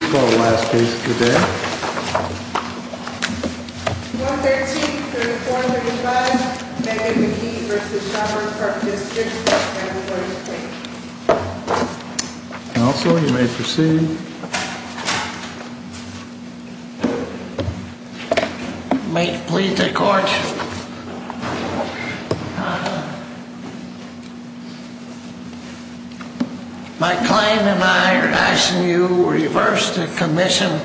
I call the last case of the day. 113-3435, Megan McGee v. Shopper from District 1046. Counsel, you may proceed. May it please the Court, My client and I are asking you to reverse the commission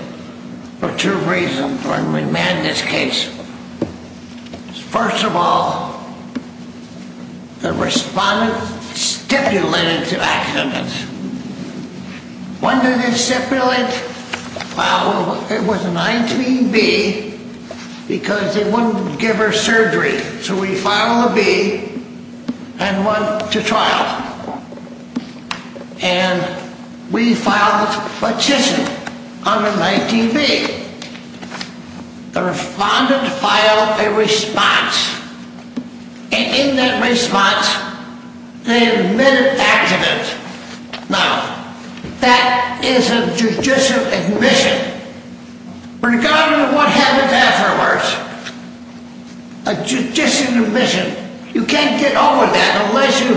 for two reasons when we man this case. First of all, the respondent stipulated to accidents. It was a 19B because they wouldn't give her surgery. So we filed a B and went to trial. And we filed a decision on the 19B. The respondent filed a response. And in that response, they admitted accident. Now, that is a judicial admission. Regardless of what happens afterwards, a judicial admission, you can't get over that unless you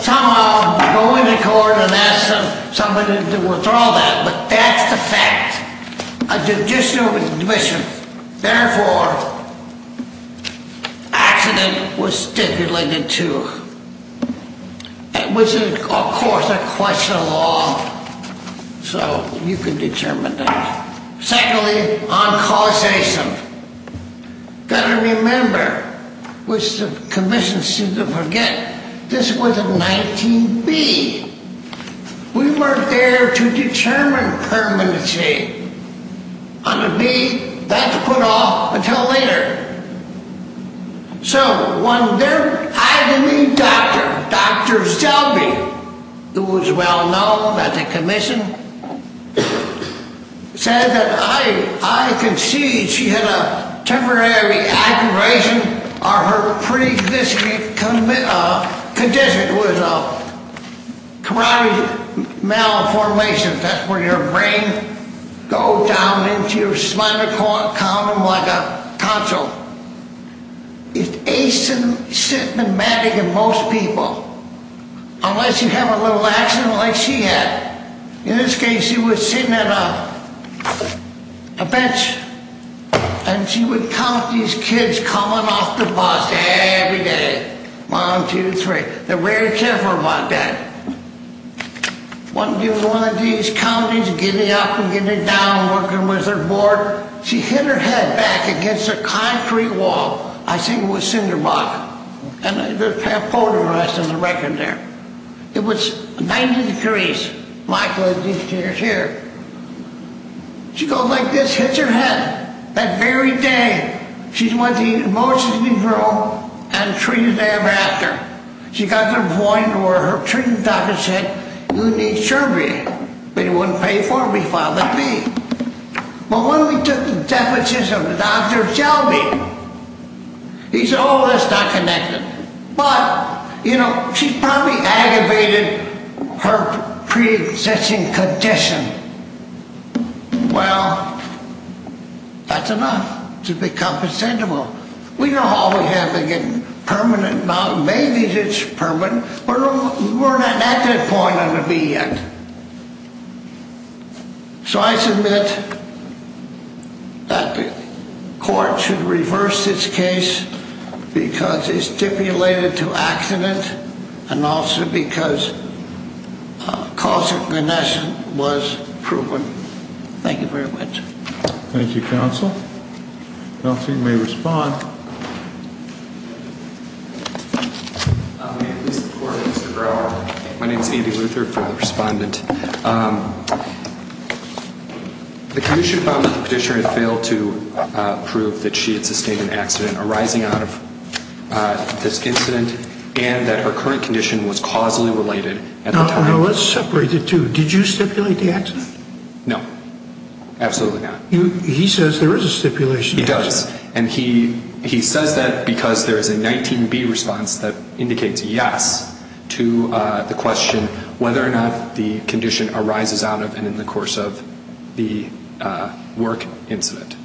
somehow go into court and ask somebody to withdraw that. But that's the fact, a judicial admission. Therefore, accident was stipulated to. It was, of course, a question of law, so you can determine that. Secondly, on causation. You've got to remember, which the commission seems to forget, this was a 19B. We weren't there to determine permanency on the B. That's put off until later. So when their agony doctor, Dr. Selby, who was well-known at the commission, said that I can see she had a temporary aggravation or her pre-condition was a carotid malformations. That's where your brain goes down into your spinal column like a console. It's asymptomatic in most people, unless you have a little accident like she had. In this case, she was sitting at a bench, and she would count these kids coming off the bus every day. One, two, three. They were very careful about that. One of these counties, getting up and getting down, working with their board. She hit her head back against a concrete wall. I think it was cinder block. And there's a poem on the record there. It was 90 degrees, Michael, as you can hear. She goes like this, hits her head. That very day, she's one of the most emotional people I've ever met. She got to the point where her treating doctor said, you need surgery, but he wouldn't pay for it. He filed a fee. But when we took the deposition of Dr. Selby, he said, oh, that's not connected. But, you know, she probably aggravated her pre-existing condition. Well, that's enough to become presentable. We know all we have, again, permanent knowledge. Maybe it's permanent, but we're not at that point yet. So I submit that the court should reverse this case because it's stipulated to accident and also because causal connection was proven. Thank you, Counsel. Counsel, you may respond. My name is Andy Luther for the respondent. The commission found that the petitioner had failed to prove that she had sustained an accident arising out of this incident and that her current condition was causally related at the time. Now, let's separate the two. Did you stipulate the accident? No, absolutely not. He says there is a stipulation. He does, and he says that because there is a 19B response that indicates yes to the question whether or not the condition arises out of and in the course of the work incident.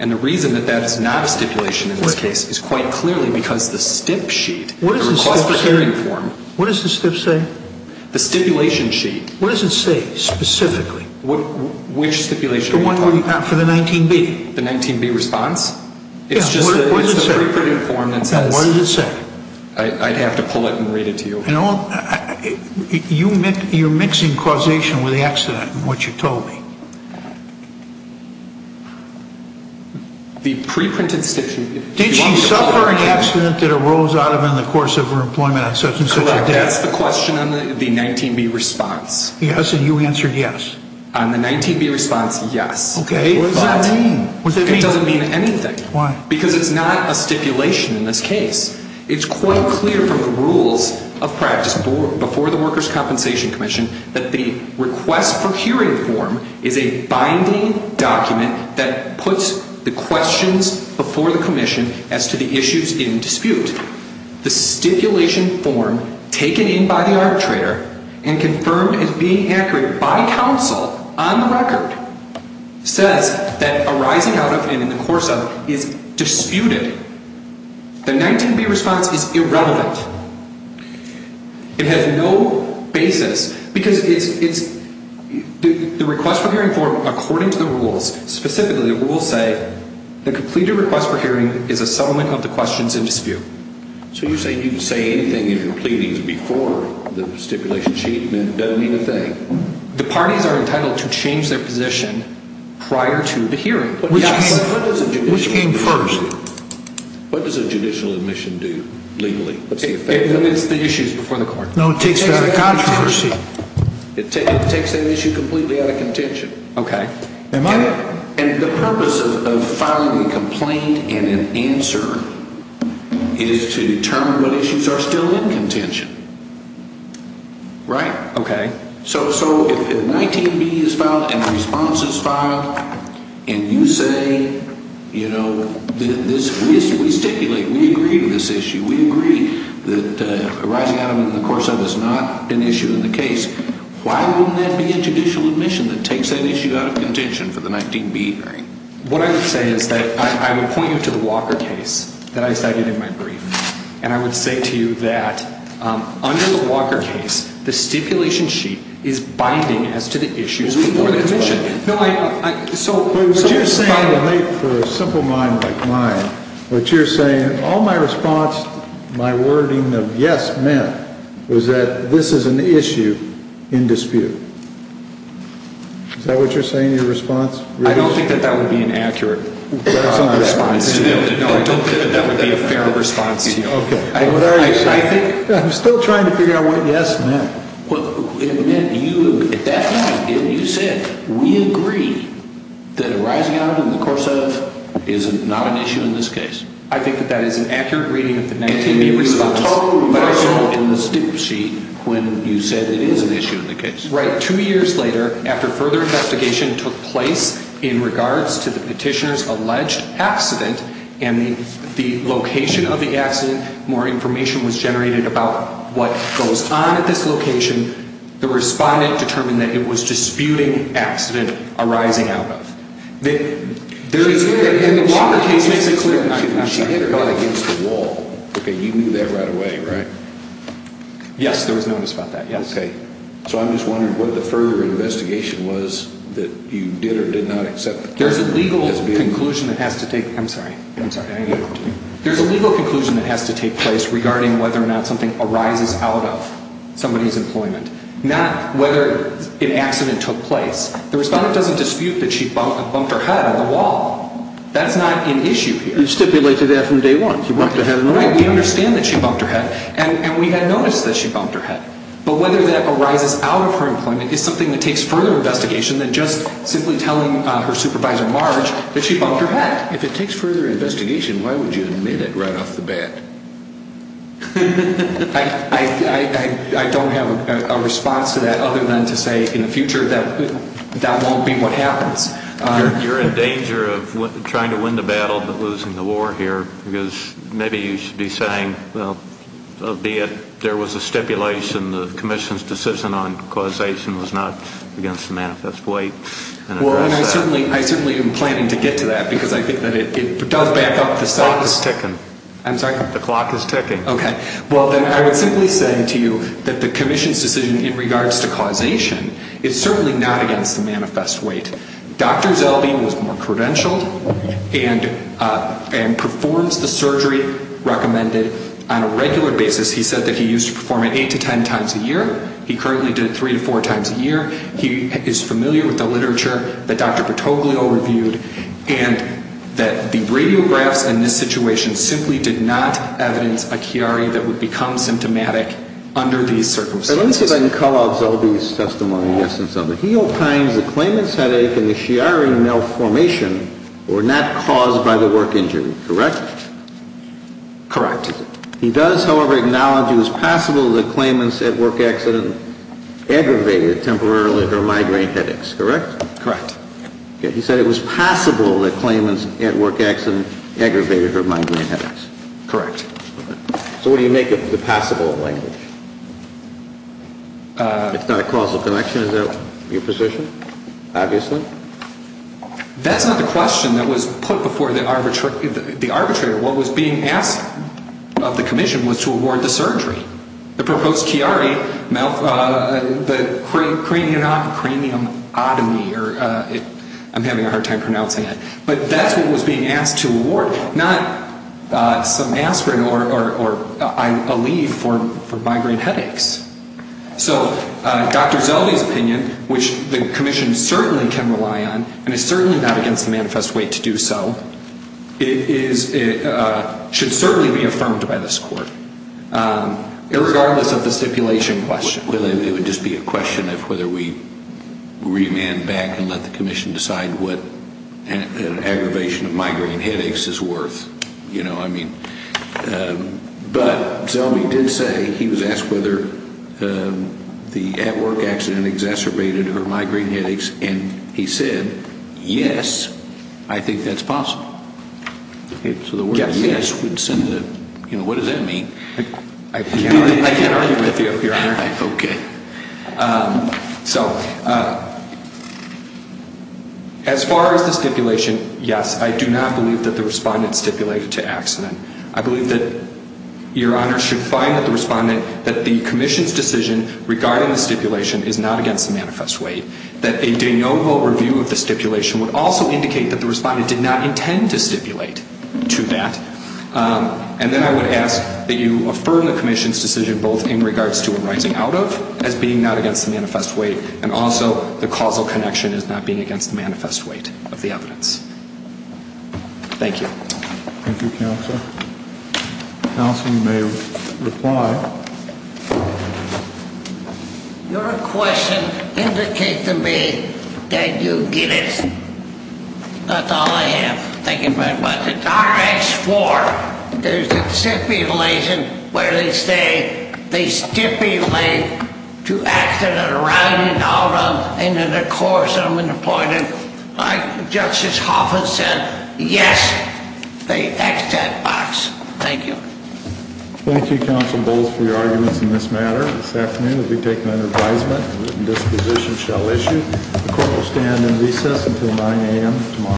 And the reason that that is not a stipulation in this case is quite clearly because the stip sheet, the request for hearing form. What does the stip say? The stipulation sheet. What does it say specifically? Which stipulation are you talking about? The one for the 19B. The 19B response? Yeah, what does it say? It's just a pre-printed form that says. Yeah, what does it say? I'd have to pull it and read it to you. You're mixing causation with the accident in what you told me. The pre-printed stip sheet. That's the question on the 19B response. Yes, and you answered yes. On the 19B response, yes. Okay, what does that mean? It doesn't mean anything. Why? Because it's not a stipulation in this case. It's quite clear from the rules of practice before the Workers' Compensation Commission that the request for hearing form is a binding document that puts the questions before the commission as to the issues in dispute. The stipulation form taken in by the arbitrator and confirmed as being accurate by counsel on the record says that arising out of and in the course of is disputed. The 19B response is irrelevant. It has no basis because the request for hearing form, according to the rules, specifically the rules say the completed request for hearing is a settlement of the questions in dispute. So you're saying you can say anything in your pleadings before the stipulation sheet? It doesn't mean a thing. The parties are entitled to change their position prior to the hearing. Yes. Which came first? What does a judicial admission do legally? It's the issues before the court. No, it takes a controversy. It takes an issue completely out of contention. Okay. And the purpose of filing a complaint and an answer is to determine what issues are still in contention, right? Okay. So if 19B is filed and the response is filed and you say, you know, we stipulate, we agree to this issue, we agree that arising out of and in the course of is not an issue in the case, why wouldn't that be a judicial admission that takes that issue out of contention for the 19B hearing? What I would say is that I would point you to the Walker case that I cited in my brief, and I would say to you that under the Walker case, the stipulation sheet is binding as to the issues before the commission. So what you're saying for a simple mind like mine, what you're saying, all my response, my wording of yes meant, was that this is an issue in dispute. Is that what you're saying, your response? I don't think that that would be an accurate response. No, I don't think that that would be a fair response. Okay. I'm still trying to figure out what yes meant. At that time, you said, we agree that arising out of and in the course of is not an issue in this case. I think that that is an accurate reading of the 19B response. But I saw in the stipulation sheet when you said it is an issue in the case. Right, two years later, after further investigation took place in regards to the petitioner's alleged accident, and the location of the accident, more information was generated about what goes on at this location, the respondent determined that it was disputing accident arising out of. The Walker case makes it clear. She hit her head against the wall. Okay, you knew that right away, right? Yes, there was notice about that, yes. Okay. So I'm just wondering what the further investigation was that you did or did not accept. There's a legal conclusion that has to take place regarding whether or not something arises out of somebody's employment. Not whether an accident took place. The respondent doesn't dispute that she bumped her head on the wall. That's not an issue here. You stipulated that from day one. She bumped her head on the wall. Right, we understand that she bumped her head. And we had noticed that she bumped her head. But whether that arises out of her employment is something that takes further investigation than just simply telling her supervisor Marge that she bumped her head. If it takes further investigation, why would you admit it right off the bat? I don't have a response to that other than to say in the future that that won't be what happens. You're in danger of trying to win the battle but losing the war here, because maybe you should be saying, well, albeit there was a stipulation, the commission's decision on causation was not against the manifest weight. Well, and I certainly am planning to get to that because I think that it does back up the substance. The clock is ticking. I'm sorry? The clock is ticking. Okay. Well, then I would simply say to you that the commission's decision in regards to causation is certainly not against the manifest weight. Dr. Zeldi was more credentialed and performs the surgery recommended on a regular basis. He said that he used to perform it 8 to 10 times a year. He currently did it 3 to 4 times a year. He is familiar with the literature that Dr. Patoglio reviewed and that the radiographs in this situation simply did not evidence a Chiari that would become symptomatic under these circumstances. Let me see if I can call out Zeldi's testimony. He opines that Klayman's headache and the Chiari malformation were not caused by the work injury, correct? Correct. He does, however, acknowledge it was possible that Klayman's at-work accident aggravated temporarily her migraine headaches, correct? Correct. He said it was possible that Klayman's at-work accident aggravated her migraine headaches. Correct. So what do you make of the possible language? It's not a causal connection. Is that your position, obviously? That's not the question that was put before the arbitrator. What was being asked of the commission was to award the surgery. The proposed Chiari, the craniumotomy, I'm having a hard time pronouncing it, but that's what was being asked to award, not some aspirin or a leave for migraine headaches. So Dr. Zeldi's opinion, which the commission certainly can rely on and is certainly not against the manifest way to do so, should certainly be affirmed by this court, irregardless of the stipulation question. It would just be a question of whether we remand back and let the commission decide what an aggravation of migraine headaches is worth. But Zeldi did say he was asked whether the at-work accident exacerbated her migraine headaches, and he said, yes, I think that's possible. So the word yes, what does that mean? I can't argue with you, Your Honor. Okay. So as far as the stipulation, yes, I do not believe that the respondent stipulated to accident. I believe that Your Honor should find that the commission's decision regarding the stipulation is not against the manifest way, that a de novo review of the stipulation would also indicate that the respondent did not intend to stipulate to that. And then I would ask that you affirm the commission's decision both in regards to arising out of as being not against the manifest way and also the causal connection as not being against the manifest way of the evidence. Thank you. Thank you, counsel. Counsel may reply. Your question indicates to me that you get it. That's all I have. Thank you very much. The directs for the stipulation where they say they stipulate to accident arising out of, and then of course I'm going to point it, like Justice Hoffman said, yes, the accident box. Thank you. Thank you, counsel Bowles, for your arguments in this matter. This afternoon we'll be taking an advisement. A written disposition shall issue. The court will stand in recess until 9 a.m. tomorrow.